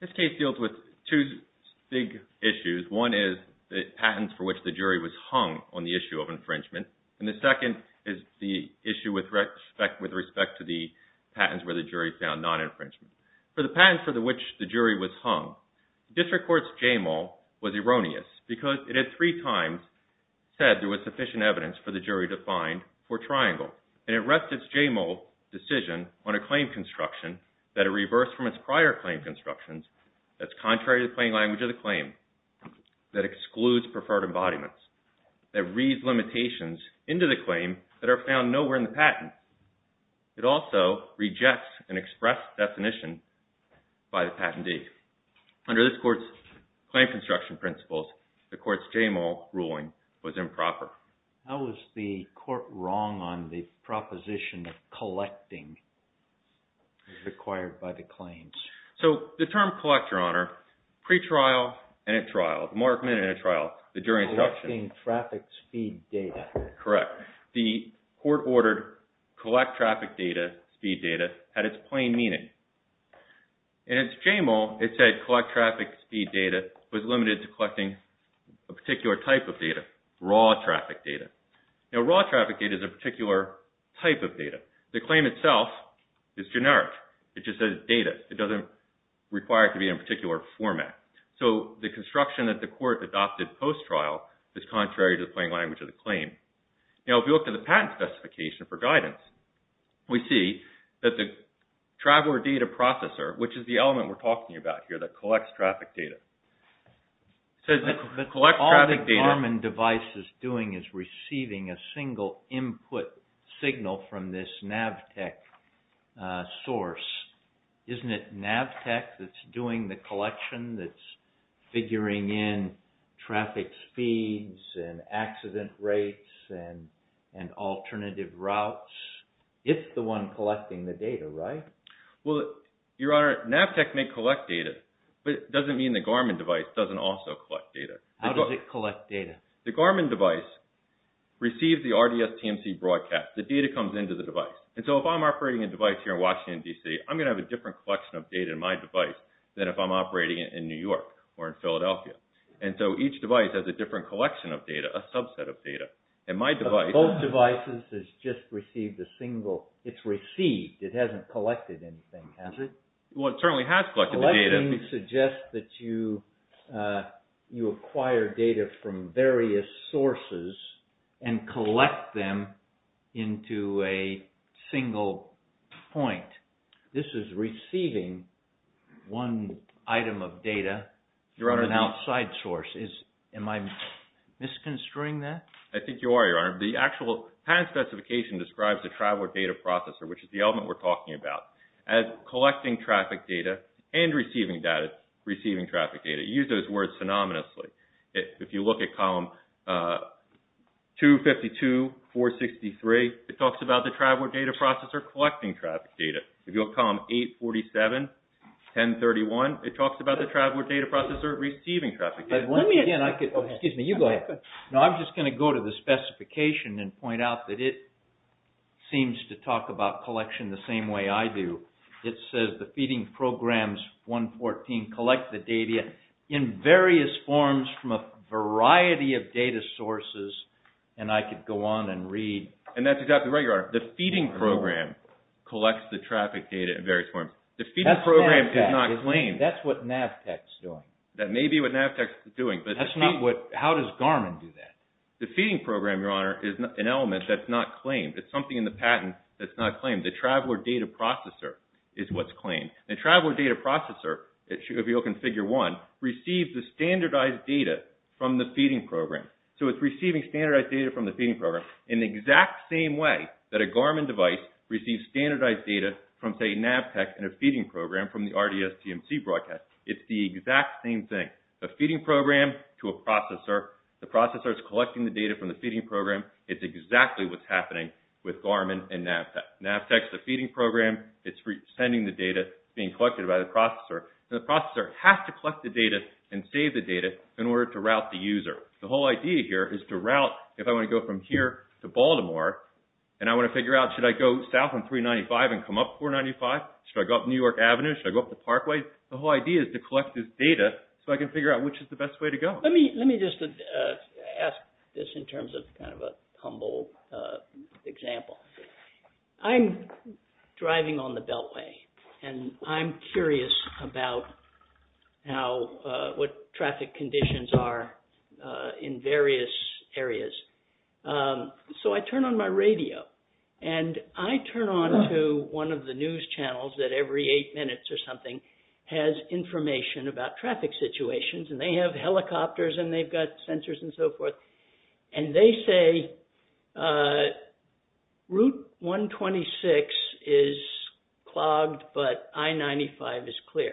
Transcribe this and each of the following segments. This case deals with two big issues. One is the patents for which the jury was hung on the issue of infringement, and the second is the issue with respect to the patents where the jury found non-infringement. For the patents for which the jury was hung, District Court's JMO was erroneous because it had three times said there was sufficient evidence for the on a claim construction that are reversed from its prior claim constructions that's contrary to the plain language of the claim, that excludes preferred embodiments, that reads limitations into the claim that are found nowhere in the patent. It also rejects an express definition by the patentee. Under this court's claim construction principles, the court's JMO ruling was improper. How was the court wrong on the proposition of collecting required by the claims? So the term collect, Your Honor, pre-trial and at trial, the more committed in a trial, the jury instruction. Collecting traffic speed data. Correct. The court ordered collect traffic data, speed data, had its plain meaning. In its JMO, it said collect traffic speed data was limited to collecting a particular type of data, raw traffic data. Now, raw traffic data is a particular type of data. The claim itself is generic. It just says data. It doesn't require it to be in a particular format. So the construction that the court adopted post-trial is contrary to the plain language of the claim. Now, if you look at the patent specification for guidance, we see that the traveler data processor, which is the element we're talking about here that collects traffic data. All the Garmin device is doing is receiving a single input signal from this Navtech source. Isn't it Navtech that's doing the collection, that's figuring in traffic speeds and accident rates and alternative routes? It's the one collecting the data, right? Well, Your Honor, Navtech may collect data, but it doesn't mean the Garmin device doesn't also collect data. How does it collect data? The Garmin device receives the RDS TMC broadcast. The data comes into the device. And so if I'm operating a device here in Washington, D.C., I'm going to have a different collection of data in my device than if I'm operating it in New York or in Philadelphia. And so each device has a different collection of data, a subset of data. Both devices has just received a single, it's received, it hasn't collected anything, has it? Well, it certainly has collected the data. Collecting suggests that you acquire data from various sources and collect them into a single point. This is receiving one item of data from an outside source. Am I misconstruing that? I think you are, Your Honor. The actual patent specification describes the Traveler Data Processor, which is the element we're talking about, as collecting traffic data and receiving traffic data. You use those words phenomenously. If you look at column 252, 463, it talks about the Traveler Data Processor collecting traffic data. If you look at column 847, 1031, it talks about the Traveler Data Processor receiving traffic data. Excuse me, you go ahead. No, I'm just going to go to the specification and point out that it seems to talk about collection the same way I do. It says the feeding programs 114 collect the data in various forms from a variety of data sources. And I could go on and read. And that's exactly right, Your Honor. The feeding program collects the traffic data in various forms. The feeding program does not claim. That's what Navtech is doing. That may be what Navtech is doing. How does Garmin do that? The feeding program, Your Honor, is an element that's not claimed. It's something in the patent that's not claimed. The Traveler Data Processor is what's claimed. The Traveler Data Processor, if you look in Figure 1, receives the standardized data from the feeding program. So it's receiving standardized data from the feeding program in the exact same way that a Garmin device receives standardized data from, say, Navtech in a feeding program from the RDS TMC broadcast. It's the exact same thing. The feeding program to a processor. The processor is collecting the data from the feeding program. It's exactly what's happening with Garmin and Navtech. Navtech is the feeding program. It's sending the data being collected by the processor. And the processor has to collect the data and save the data in order to route the user. The whole idea here is to route, if I want to go from here to Baltimore, and I want to figure out, should I go south on 395 and come up 495? Should I go up New York Avenue? Should I go up the parkway? The whole idea is to collect this data so I can figure out which is the best way to go. Let me just ask this in terms of kind of a humble example. I'm driving on the Beltway, and I'm curious about what traffic conditions are in various areas. So I turn on my radio, and I turn on to one of the news channels that every eight minutes or something has information about traffic situations. And they have helicopters, and they've got sensors and so forth. And they say Route 126 is clogged, but I-95 is clear.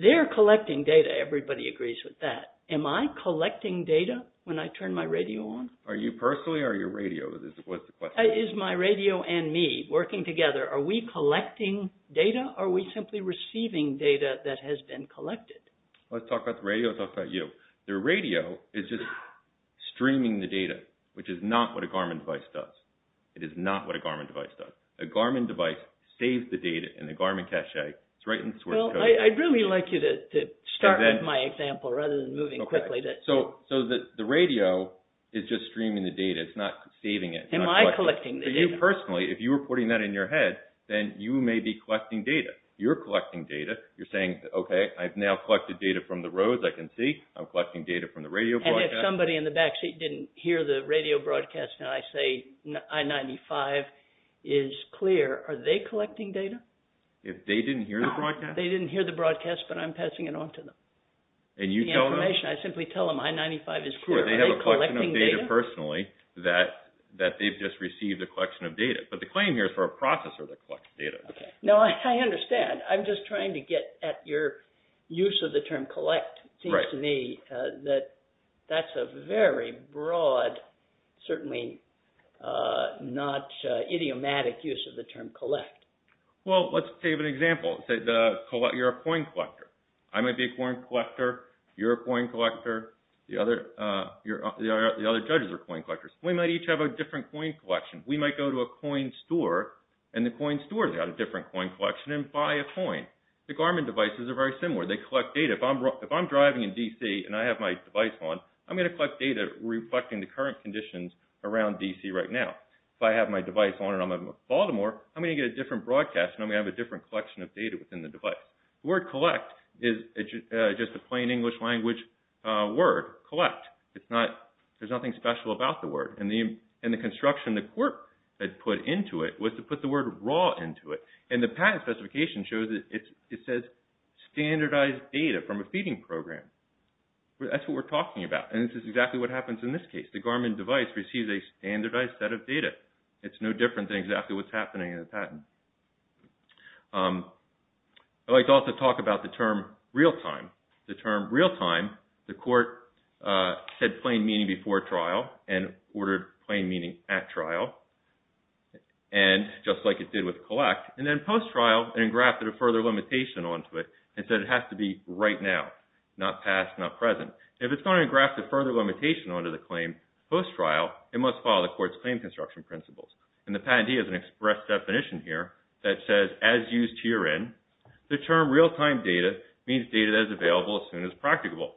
They're collecting data. Everybody agrees with that. Am I collecting data when I turn my radio on? Are you personally, or are you radio? What's the question? Is my radio and me working together? Are we collecting data, or are we simply receiving data that has been collected? Let's talk about the radio and talk about you. The radio is just streaming the data, which is not what a Garmin device does. It is not what a Garmin device does. A Garmin device saves the data in the Garmin cache. It's right in the source code. I'd really like you to start with my example rather than moving quickly. So the radio is just streaming the data. It's not saving it. Am I collecting the data? For you personally, if you were putting that in your head, then you may be collecting data. You're collecting data. You're saying, okay, I've now collected data from the roads. I can see I'm collecting data from the radio broadcast. And if somebody in the backseat didn't hear the radio broadcast, and I say I-95 is clear, are they collecting data? If they didn't hear the broadcast? They didn't hear the broadcast, but I'm passing it on to them. And you tell them? The information. I simply tell them I-95 is clear. Are they collecting data? They have a collection of data personally that they've just received a collection of data. But the claim here is for a processor to collect data. Okay. Now, I understand. I'm just trying to get at your use of the term collect. Right. It seems to me that that's a very broad, certainly not idiomatic use of the term collect. Well, let's give an example. You're a coin collector. I might be a coin collector. You're a coin collector. The other judges are coin collectors. We might each have a different coin collection. We might go to a coin store, and the coin store has got a different coin collection, and buy a coin. The Garmin devices are very similar. They collect data. If I'm driving in D.C. and I have my device on, I'm going to collect data reflecting the current conditions around D.C. right now. If I have my device on and I'm in Baltimore, I'm going to get a different broadcast, and I'm going to have a different collection of data within the device. The word collect is just a plain English language word, collect. There's nothing special about the word. And the construction the court had put into it was to put the word raw into it. And the patent specification shows that it says standardized data from a feeding program. That's what we're talking about. And this is exactly what happens in this case. The Garmin device receives a standardized set of data. It's no different than exactly what's happening in the patent. I'd like to also talk about the term real-time. The term real-time, the court said plain meaning before trial and ordered plain meaning at trial, and just like it did with collect. And then post-trial, it engrafted a further limitation onto it and said it has to be right now, not past, not present. If it's going to engraft a further limitation onto the claim post-trial, it must follow the court's claim construction principles. And the patentee has an express definition here that says as used herein, the term real-time data means data that is available as soon as practicable.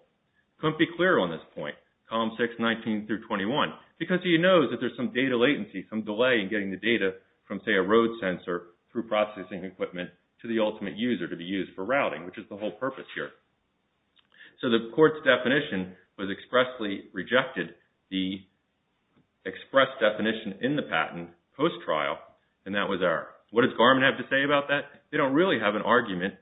Couldn't be clearer on this point, column 6, 19 through 21, because he knows that there's some data latency, some delay in getting the data from, say, a road sensor through processing equipment to the ultimate user to be used for routing, which is the whole purpose here. So the court's definition was expressly rejected, the express definition in the patent post-trial, and that was there. What does Garmin have to say about that? They don't really have an argument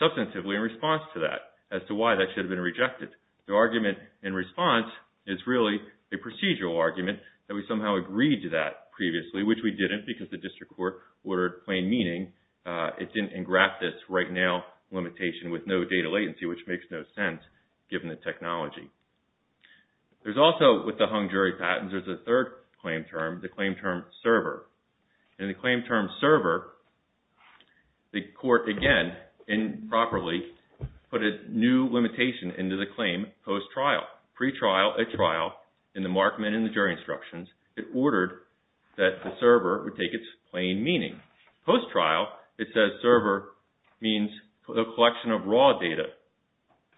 substantively in response to that as to why that should have been rejected. The argument in response is really a procedural argument that we somehow agreed to that previously, which we didn't because the district court ordered plain meaning. It didn't engraft this right now limitation with no data latency, which makes no sense given the technology. There's also, with the hung jury patents, there's a third claim term, the claim term server. In the claim term server, the court, again, improperly put a new limitation into the claim post-trial. Pre-trial, at trial, in the Markman and the jury instructions, it ordered that the server would take its plain meaning. Post-trial, it says server means a collection of raw data.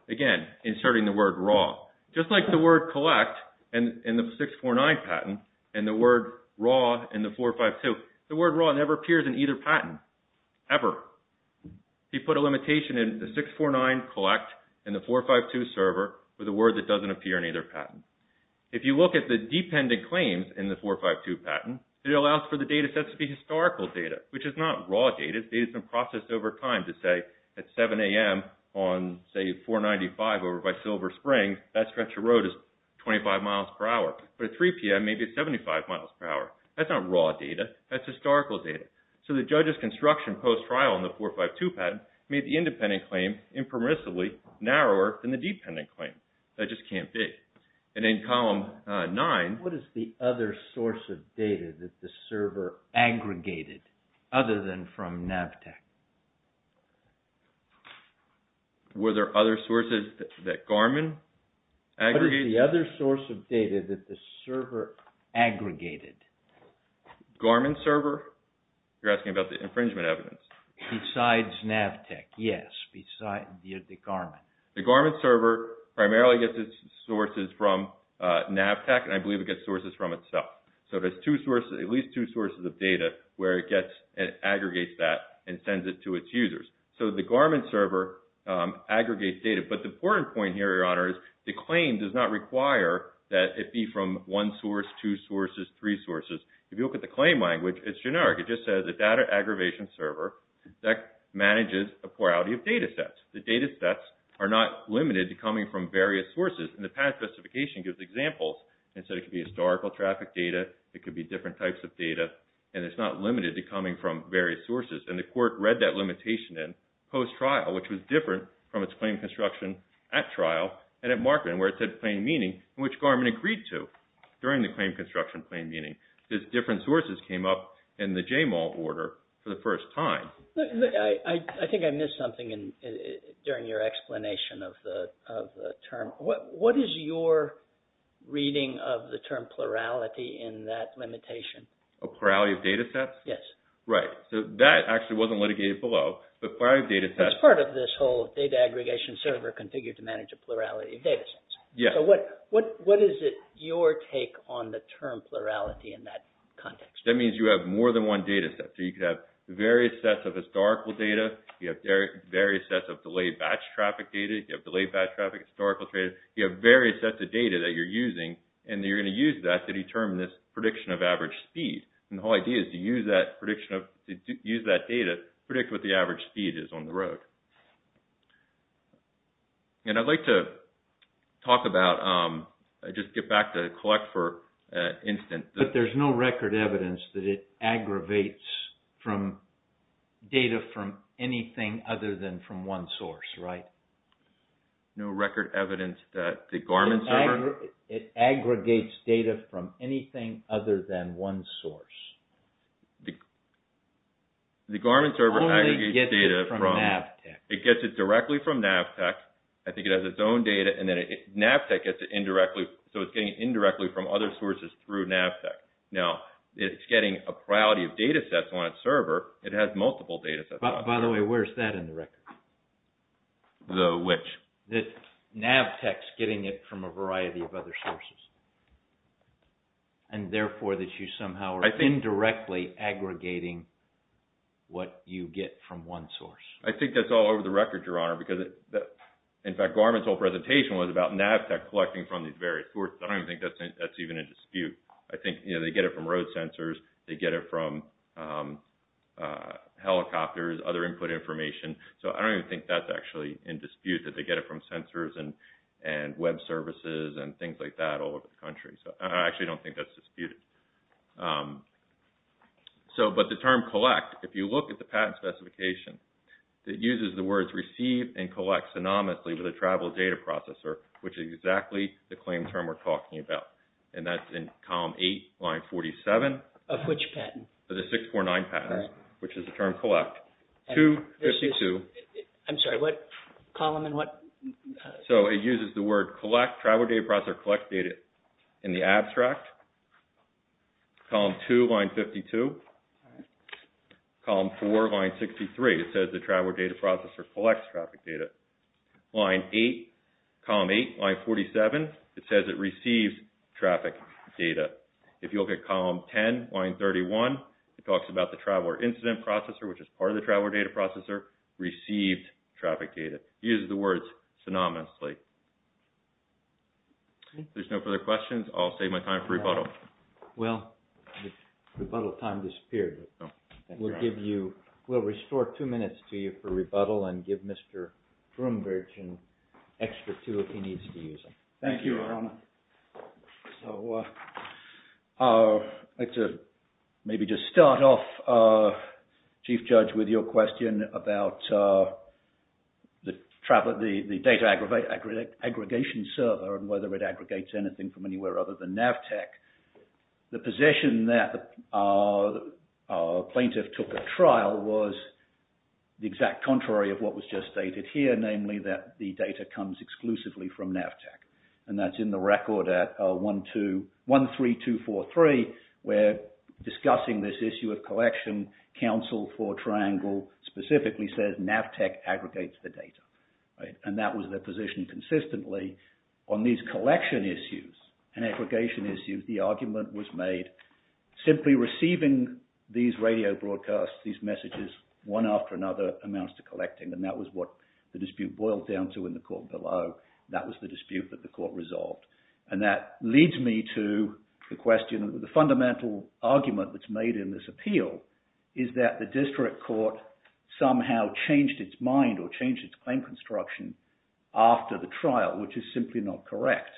Again, inserting the word raw. Just like the word collect in the 649 patent and the word raw in the 452, the word raw never appears in either patent, ever. He put a limitation in the 649 collect and the 452 server with a word that doesn't appear in either patent. If you look at the dependent claims in the 452 patent, it allows for the data set to be historical data, which is not raw data. It's been processed over time to say at 7 a.m. on, say, 495 over by Silver Spring, that stretch of road is 25 miles per hour. But at 3 p.m., maybe it's 75 miles per hour. That's not raw data. That's historical data. So the judge's construction post-trial in the 452 patent made the independent claim impermissibly narrower than the dependent claim. That just can't be. And in column 9. What is the other source of data that the server aggregated other than from Navtech? Were there other sources that Garmin aggregated? What is the other source of data that the server aggregated? Garmin server? You're asking about the infringement evidence. Besides Navtech, yes. Besides the Garmin. The Garmin server primarily gets its sources from Navtech, and I believe it gets sources from itself. So there's at least two sources of data where it aggregates that and sends it to its users. So the Garmin server aggregates data. But the important point here, Your Honor, is the claim does not require that it be from one source, two sources, three sources. If you look at the claim language, it's generic. It just says a data aggravation server that manages a plurality of data sets. The data sets are not limited to coming from various sources. And the past justification gives examples. It said it could be historical traffic data. It could be different types of data. And it's not limited to coming from various sources. And the court read that limitation in post-trial, which was different from its claim construction at trial and at Markman, where it said plain meaning, which Garmin agreed to during the claim construction plain meaning. Because different sources came up in the JMAL order for the first time. I think I missed something during your explanation of the term. What is your reading of the term plurality in that limitation? A plurality of data sets? Yes. Right. So that actually wasn't litigated below. But plurality of data sets. That's part of this whole data aggregation server configured to manage a plurality of data sets. Yes. So what is it your take on the term plurality in that context? That means you have more than one data set. So you could have various sets of historical data. You have various sets of delayed batch traffic data. You have delayed batch traffic historical data. You have various sets of data that you're using. And you're going to use that to determine this prediction of average speed. And the whole idea is to use that data to predict what the average speed is on the road. And I'd like to talk about, just get back to collect for instance. But there's no record evidence that it aggravates data from anything other than from one source, right? No record evidence that the Garmin server... It aggregates data from anything other than one source. The Garmin server aggregates data from... It only gets it from Navtech. It gets it directly from Navtech. I think it has its own data. And then Navtech gets it indirectly. So it's getting it indirectly from other sources through Navtech. Now, it's getting a priority of data sets on its server. It has multiple data sets on it. By the way, where's that in the record? The which? That Navtech's getting it from a variety of other sources. And therefore that you somehow are indirectly aggregating what you get from one source. I think that's all over the record, Your Honor. In fact, Garmin's whole presentation was about Navtech collecting from these various sources. I don't even think that's even in dispute. I think they get it from road sensors. They get it from helicopters, other input information. So I don't even think that's actually in dispute, that they get it from sensors and web services and things like that all over the country. I actually don't think that's disputed. But the term collect, if you look at the patent specification, it uses the words receive and collect synonymously with a travel data processor, which is exactly the claim term we're talking about. And that's in column 8, line 47. Of which patent? Of the 649 patents, which is the term collect. I'm sorry, what column and what? So it uses the word collect, travel data processor, collect data in the abstract. Column 2, line 52. Column 4, line 63. It says the travel data processor collects traffic data. Line 8, column 8, line 47. It says it receives traffic data. If you look at column 10, line 31, it talks about the traveler incident processor, which is part of the travel data processor, received traffic data. It uses the words synonymously. If there's no further questions, I'll save my time for rebuttal. Well, rebuttal time disappeared. We'll restore two minutes to you for rebuttal and give Mr. Broombridge an extra two if he needs to use them. Thank you, Your Honor. I'd like to maybe just start off, Chief Judge, with your question about the data aggregation server and whether it aggregates anything from anywhere other than Navtech. The position that the plaintiff took at trial was the exact contrary of what was just stated here, namely that the data comes exclusively from Navtech. And that's in the record at 13243, where discussing this issue of collection, counsel for Triangle specifically says Navtech aggregates the data. And that was their position consistently. On these collection issues and aggregation issues, the argument was made simply receiving these radio broadcasts, these messages, one after another amounts to collecting. And that was what the dispute boiled down to in the court below. That was the dispute that the court resolved. And that leads me to the question, the fundamental argument that's made in this appeal is that the district court somehow changed its mind or changed its claim construction after the trial, which is simply not correct.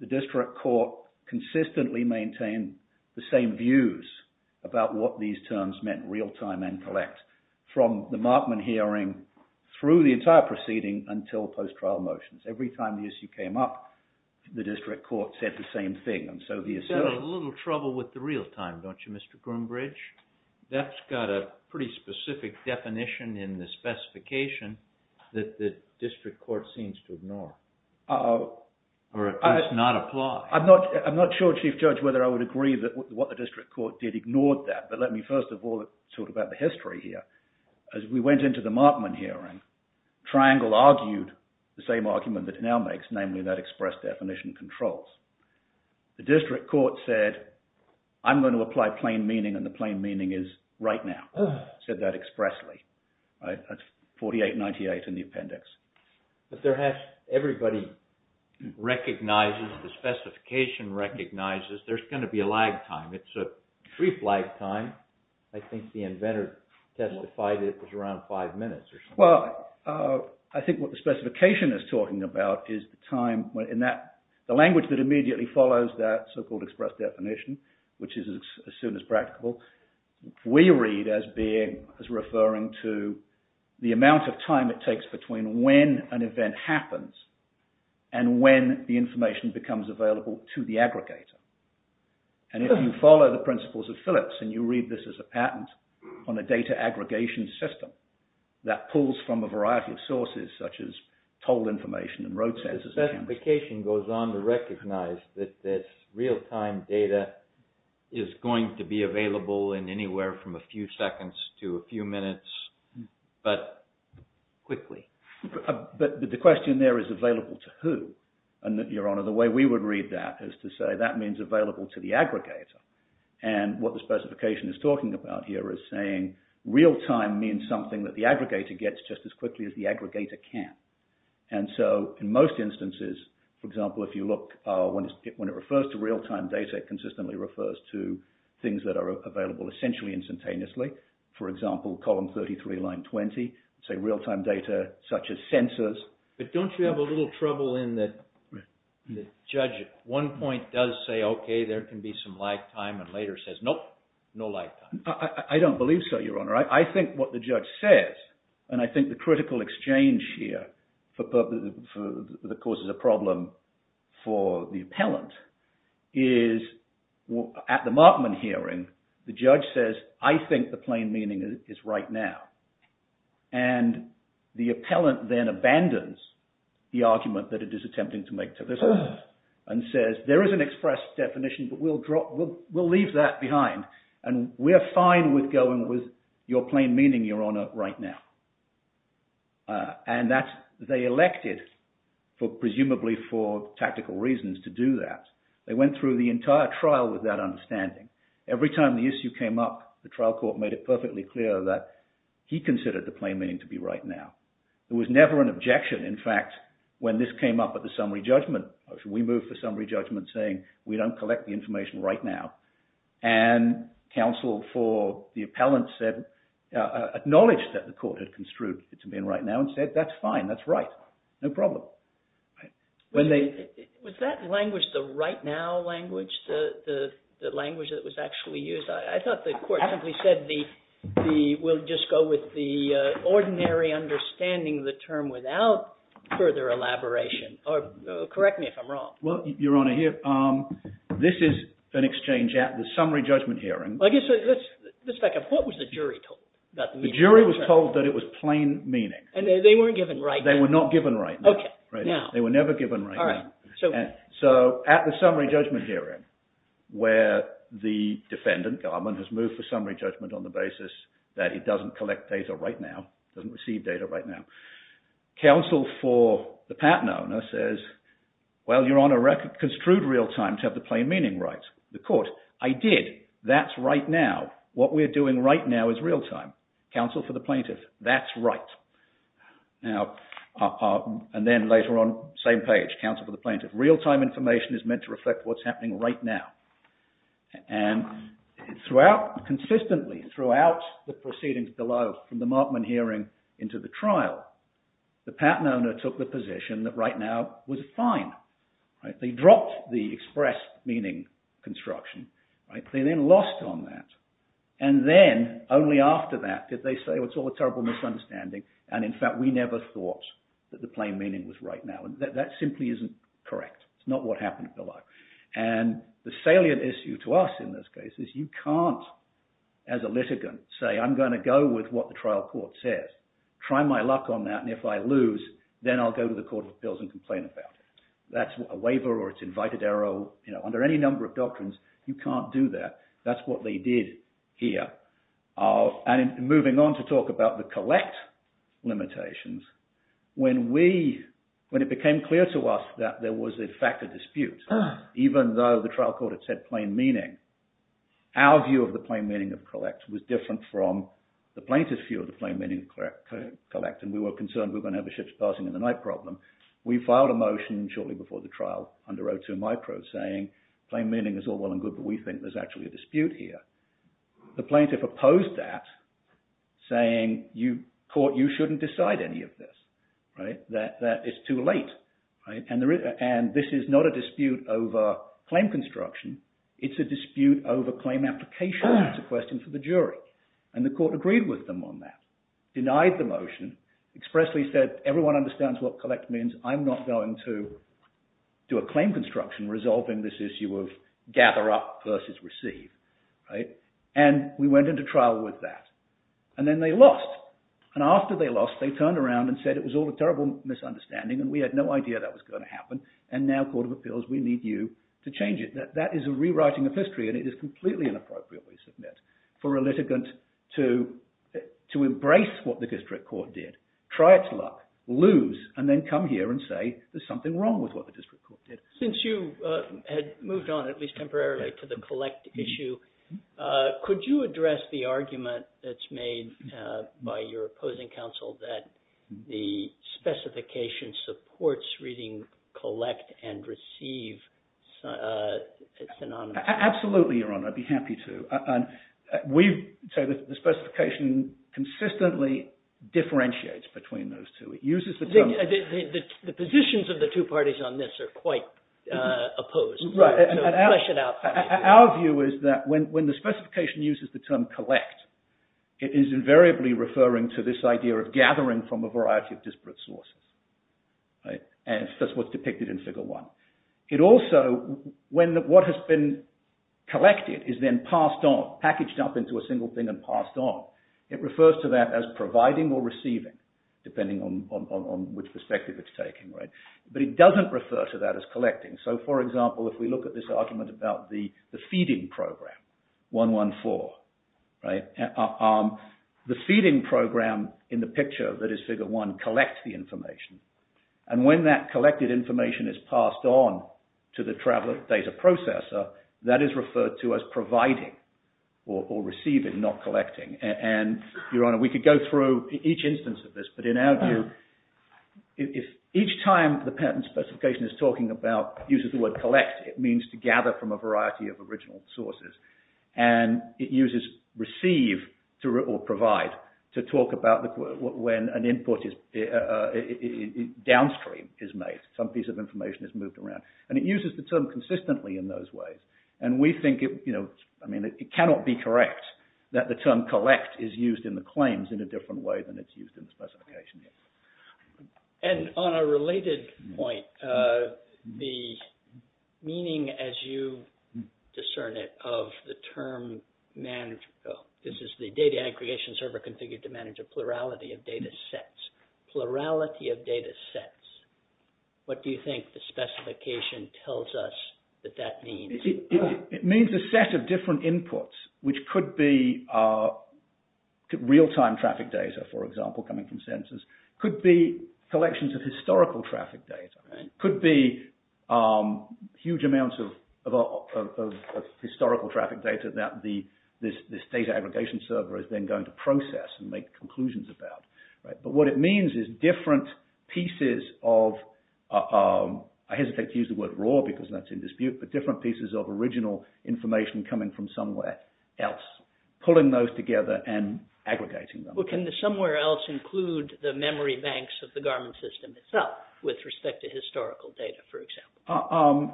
The district court consistently maintained the same views about what these terms meant, real-time and collect, from the Markman hearing through the entire proceeding until post-trial motions. Every time the issue came up, the district court said the same thing. And so the assertion... You've got a little trouble with the real-time, don't you, Mr. Groombridge? That's got a pretty specific definition in the specification that the district court seems to ignore or at least not apply. I'm not sure, Chief Judge, whether I would agree that what the district court did ignored that. But let me first of all talk about the history here. As we went into the Markman hearing, Triangle argued the same argument that it now makes, namely that express definition controls. The district court said, I'm going to apply plain meaning and the plain meaning is right now. It said that expressly. That's 4898 in the appendix. But there has... Everybody recognizes, the specification recognizes there's going to be a lag time. It's a brief lag time. I think the inventor testified it was around five minutes or so. Well, I think what the specification is talking about is the time in that... The language that immediately follows that so-called express definition, which is as soon as practicable, we read as being... as referring to the amount of time it takes between when an event happens and when the information becomes available to the aggregator. And if you follow the principles of Phillips and you read this as a patent on a data aggregation system that pulls from a variety of sources, such as toll information and road sensors... The specification goes on to recognize that this real-time data is going to be available in anywhere from a few seconds to a few minutes, but quickly. But the question there is available to who? And, Your Honor, the way we would read that is to say that means available to the aggregator. And what the specification is talking about here is saying real-time means something that the aggregator gets just as quickly as the aggregator can. And so, in most instances, for example, if you look... when it refers to real-time data, it consistently refers to things that are available essentially instantaneously. For example, column 33, line 20, say real-time data such as sensors. But don't you have a little trouble in that the judge at one point does say, okay, there can be some lag time, and later says, nope, no lag time. I don't believe so, Your Honor. I think what the judge says, and I think the critical exchange here that causes a problem for the appellant, is at the Markman hearing, the judge says, I think the plain meaning is right now. And the appellant then abandons the argument that it is attempting to make to this and says, there is an express definition, but we'll leave that behind, and we're fine with going with your plain meaning, Your Honor, right now. And they elected, presumably for tactical reasons, to do that. They went through the entire trial with that understanding. Every time the issue came up, the trial court made it perfectly clear that he considered the plain meaning to be right now. There was never an objection, in fact, when this came up at the summary judgment. We moved for summary judgment saying, we don't collect the information right now. And counsel for the appellant said, acknowledged that the court had construed it to be right now and said, that's fine, that's right, no problem. Was that language the right now language? The language that was actually used? I thought the court simply said, we'll just go with the ordinary understanding of the term without further elaboration. Correct me if I'm wrong. Well, Your Honor, this is an exchange at the summary judgment hearing. What was the jury told? The jury was told that it was plain meaning. And they weren't given right now? They were not given right now. They were never given right now. So, at the summary judgment hearing, where the defendant, Garmon, has moved for summary judgment on the basis that he doesn't collect data right now, doesn't receive data right now, counsel for the patent owner says, well, Your Honor, I've construed real time to have the plain meaning right. The court, I did, that's right now. What we're doing right now is real time. Counsel for the plaintiff, that's right. Now, and then later on, same page, counsel for the plaintiff, real time information is meant to reflect what's happening right now. And consistently throughout the proceedings below, from the Markman hearing into the trial, the patent owner took the position that right now was fine. They dropped the express meaning construction. They then lost on that. And then, only after that, did they say, it's all a terrible misunderstanding, and in fact, we never thought that the plain meaning was right now. That simply isn't correct. It's not what happened below. And the salient issue to us in this case is you can't, as a litigant, say, I'm going to go with what the trial court says. Try my luck on that, and if I lose, then I'll go to the court of appeals and complain about it. That's a waiver or it's invited error. Under any number of doctrines, you can't do that. That's what they did here. And moving on to talk about the collect limitations, when it became clear to us that there was, in fact, a dispute, even though the trial court had said plain meaning, our view of the plain meaning of collect was different from the plaintiff's view of the plain meaning of collect, and we were concerned we were going to have a ship's passing in the night problem. We filed a motion shortly before the trial under 02micro saying plain meaning is all well and good, but we think there's actually a dispute here. The plaintiff opposed that, saying, court, you shouldn't decide any of this, that it's too late. And this is not a dispute over claim construction. It's a dispute over claim application. It's a question for the jury. And the court agreed with them on that, denied the motion, expressly said, everyone understands what collect means. I'm not going to do a claim construction resolving this issue of gather up versus receive. And we went into trial with that. And then they lost. And after they lost, they turned around and said it was all a terrible misunderstanding and we had no idea that was going to happen, and now, Court of Appeals, we need you to change it. That is a rewriting of history and it is completely inappropriate, we submit, for a litigant to embrace what the district court did, try its luck, lose, and then come here and say there's something wrong with what the district court did. Since you had moved on, at least temporarily, to the collect issue, could you address the argument that's made by your opposing counsel that the specification supports reading collect and receive synonymously? Absolutely, Your Honor, I'd be happy to. The specification consistently differentiates between those two. The positions of the two parties on this are quite opposed. Our view is that when the specification uses the term collect, it is invariably referring to this idea of gathering from a variety of disparate sources. And that's what's depicted in Figure 1. It also, when what has been collected is then passed on, packaged up into a single thing and passed on, it refers to that as providing or receiving, depending on which perspective it's taking. But it doesn't refer to that as collecting. So, for example, if we look at this argument about the feeding program, 114, the feeding program in the picture that is Figure 1 collects the information, and when that collected information is passed on to the travel data processor, that is referred to as providing or receiving, not collecting. And, Your Honor, we could go through each instance of this, but in our view, if each time the patent specification is talking about, uses the word collect, it means to gather from a variety of original sources. And it uses receive or provide to talk about when an input downstream is made. Some piece of information is moved around. And it uses the term consistently in those ways. And we think, you know, I mean, it cannot be correct that the term collect is used in the claims in a different way than it's used in the specification. And on a related point, the meaning, as you discern it, of the term, this is the data aggregation server configured to manage a plurality of data sets. Plurality of data sets. What do you think the specification tells us that that means? It means a set of different inputs, which could be real-time traffic data, for example, coming from sensors. Could be collections of historical traffic data. Could be huge amounts of historical traffic data that this data aggregation server is then going to process and make conclusions about. But what it means is different pieces of, I hesitate to use the word raw because that's in dispute, but different pieces of original information coming from somewhere else. Pulling those together and aggregating them. Well, can the somewhere else include the memory banks of the Garmin system itself with respect to historical data, for example?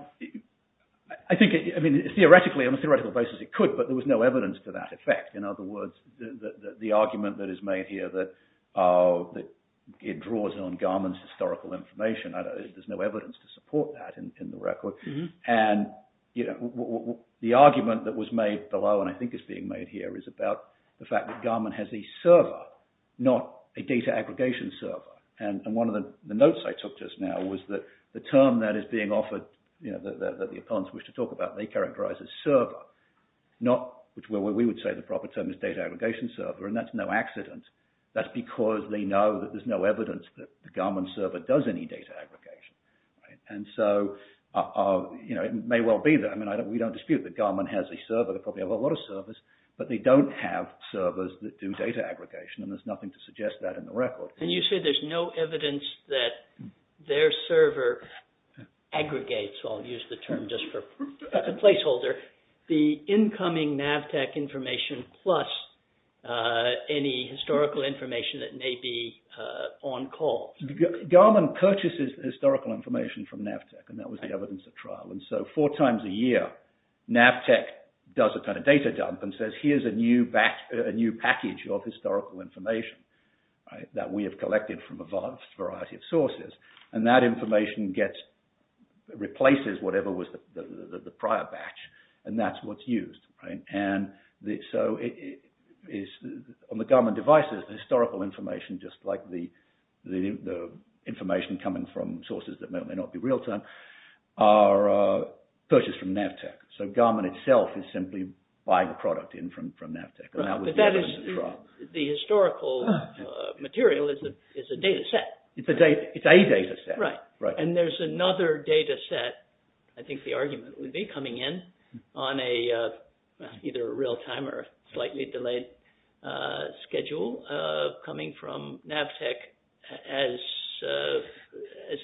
I think, I mean, theoretically, on a theoretical basis it could, but there was no evidence to that effect. In other words, the argument that is made here that it draws on Garmin's historical information, there's no evidence to support that in the record. And the argument that was made below, and I think is being made here, is about the fact that Garmin has a server, not a data aggregation server. And one of the notes I took just now was that the term that is being offered, that the opponents wish to talk about, they characterize as server. Not, which we would say the proper term is data aggregation server, and that's no accident. That's because they know that there's no evidence that the Garmin server does any data aggregation. And so, you know, it may well be that. I mean, we don't dispute that Garmin has a server, they probably have a lot of servers, but they don't have servers that do data aggregation, and there's nothing to suggest that in the record. And you say there's no evidence that their server aggregates, I'll use the term just for placeholder, the incoming Navtech information plus any historical information that may be on call. Garmin purchases historical information from Navtech, and that was the evidence at trial. And so four times a year, Navtech does a kind of data dump and says here's a new package of historical information that we have collected from a variety of sources. And that information replaces whatever was the prior batch, and that's what's used. And so on the Garmin devices, the historical information, just like the information coming from sources that may or may not be real-time, are purchased from Navtech. So Garmin itself is simply buying product in from Navtech. And that was the evidence at trial. The historical material is a data set. It's a data set. Right. And there's another data set, I think the argument would be, coming in on either a real-time or slightly delayed schedule, coming from Navtech as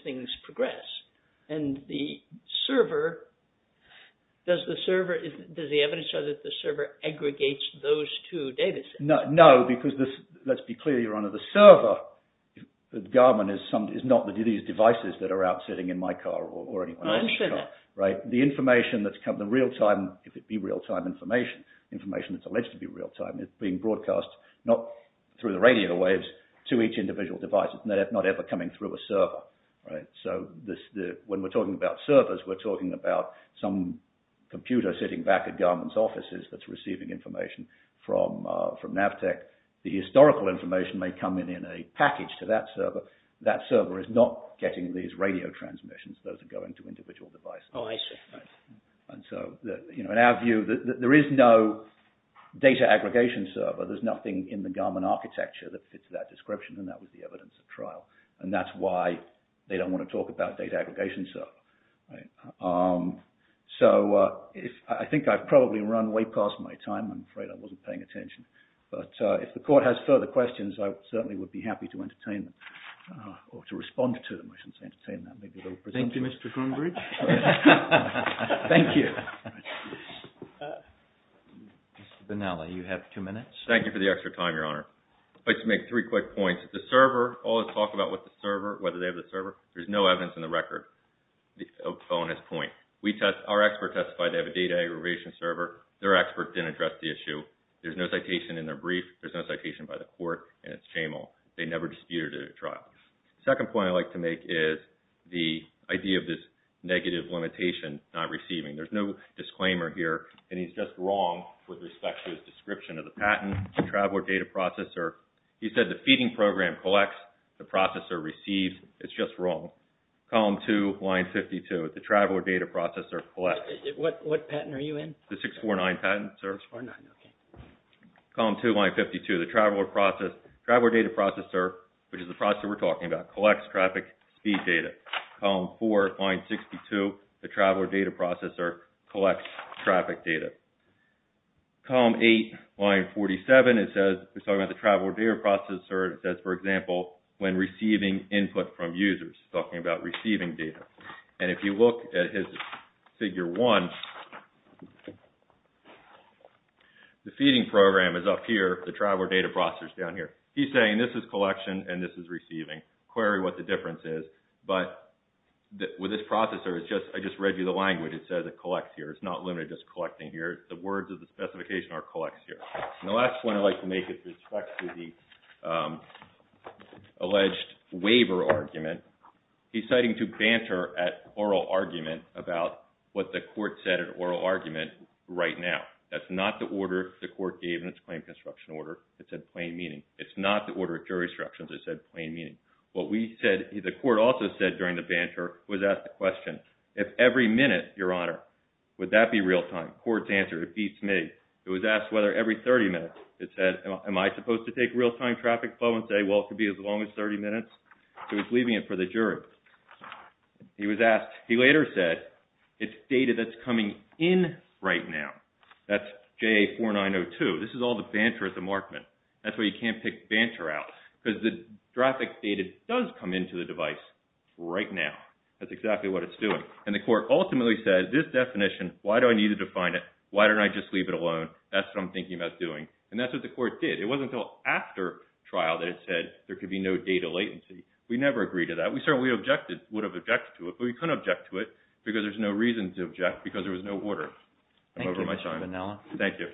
things progress. And the server, does the evidence show that the server aggregates those two data sets? No, because let's be clear, you're under the server. Garmin is not these devices that are out sitting in my car or anyone else's car. I understand that. Right. The information that's coming in real-time, if it be real-time information, information that's alleged to be real-time, it's being broadcast, not through the radio waves, to each individual device. It's not ever coming through a server. Right. So when we're talking about servers, we're talking about some computer sitting back at Garmin's offices that's receiving information from Navtech. The historical information may come in in a package to that server. That server is not getting these radio transmissions. Those are going to individual devices. Oh, I see. And so in our view, there is no data aggregation server. There's nothing in the Garmin architecture that fits that description, and that was the evidence of trial. And that's why they don't want to talk about data aggregation server. So I think I've probably run way past my time. I'm afraid I wasn't paying attention. But if the court has further questions, I certainly would be happy to entertain them or to respond to them. I should say entertain them. Thank you, Mr. Conbridge. Thank you. Mr. Bonella, you have two minutes. Thank you for the extra time, Your Honor. I'd like to make three quick points. The server, all the talk about with the server, whether they have the server, there's no evidence in the record. That's a bonus point. Our expert testified they have a data aggregation server. Their expert didn't address the issue. There's no citation in their brief. There's no citation by the court, and it's shameful. They never disputed a trial. The second point I'd like to make is the idea of this negative limitation not receiving. There's no disclaimer here, and he's just wrong with respect to his description of the patent, the Traveler Data Processor. He said the feeding program collects, the processor receives. It's just wrong. Column 2, line 52, the Traveler Data Processor collects. What patent are you in? The 649 patent, sir. 649, okay. Column 2, line 52, the Traveler Data Processor, which is the processor we're talking about, collects traffic speed data. Column 4, line 62, the Traveler Data Processor collects traffic data. Column 8, line 47, it says, we're talking about the Traveler Data Processor, it says, for example, when receiving input from users, talking about receiving data. And if you look at his figure 1, the feeding program is up here, the Traveler Data Processor's down here. He's saying this is collection, and this is receiving. Query what the difference is. But with this processor, I just read you the language. It says it collects here. It's not limited to just collecting here. The words of the specification are collects here. And the last one I'd like to make is with respect to the alleged waiver argument. He's citing to banter at oral argument about what the court said in oral argument right now. That's not the order the court gave in its claim construction order. It said plain meaning. It's not the order of jury instructions. It said plain meaning. What we said, the court also said during the banter, was ask the question, if every minute, Your Honor, would that be real time? Court's answer, it beats me. It was asked whether every 30 minutes. It said, am I supposed to take real time traffic flow and say, well, it could be as long as 30 minutes? It was leaving it for the jury. He was asked, he later said, it's data that's coming in right now. That's JA 4902. This is all the banter at the markman. That's why you can't pick banter out. Because the traffic data does come into the device right now. That's exactly what it's doing. And the court ultimately said, this definition, why do I need to define it? Why don't I just leave it alone? That's what I'm thinking about doing. And that's what the court did. It wasn't until after trial that it said there could be no data latency. We never agreed to that. We certainly would have objected to it, but we couldn't object to it because there's no reason to object because there was no order. I'm over my time. Thank you.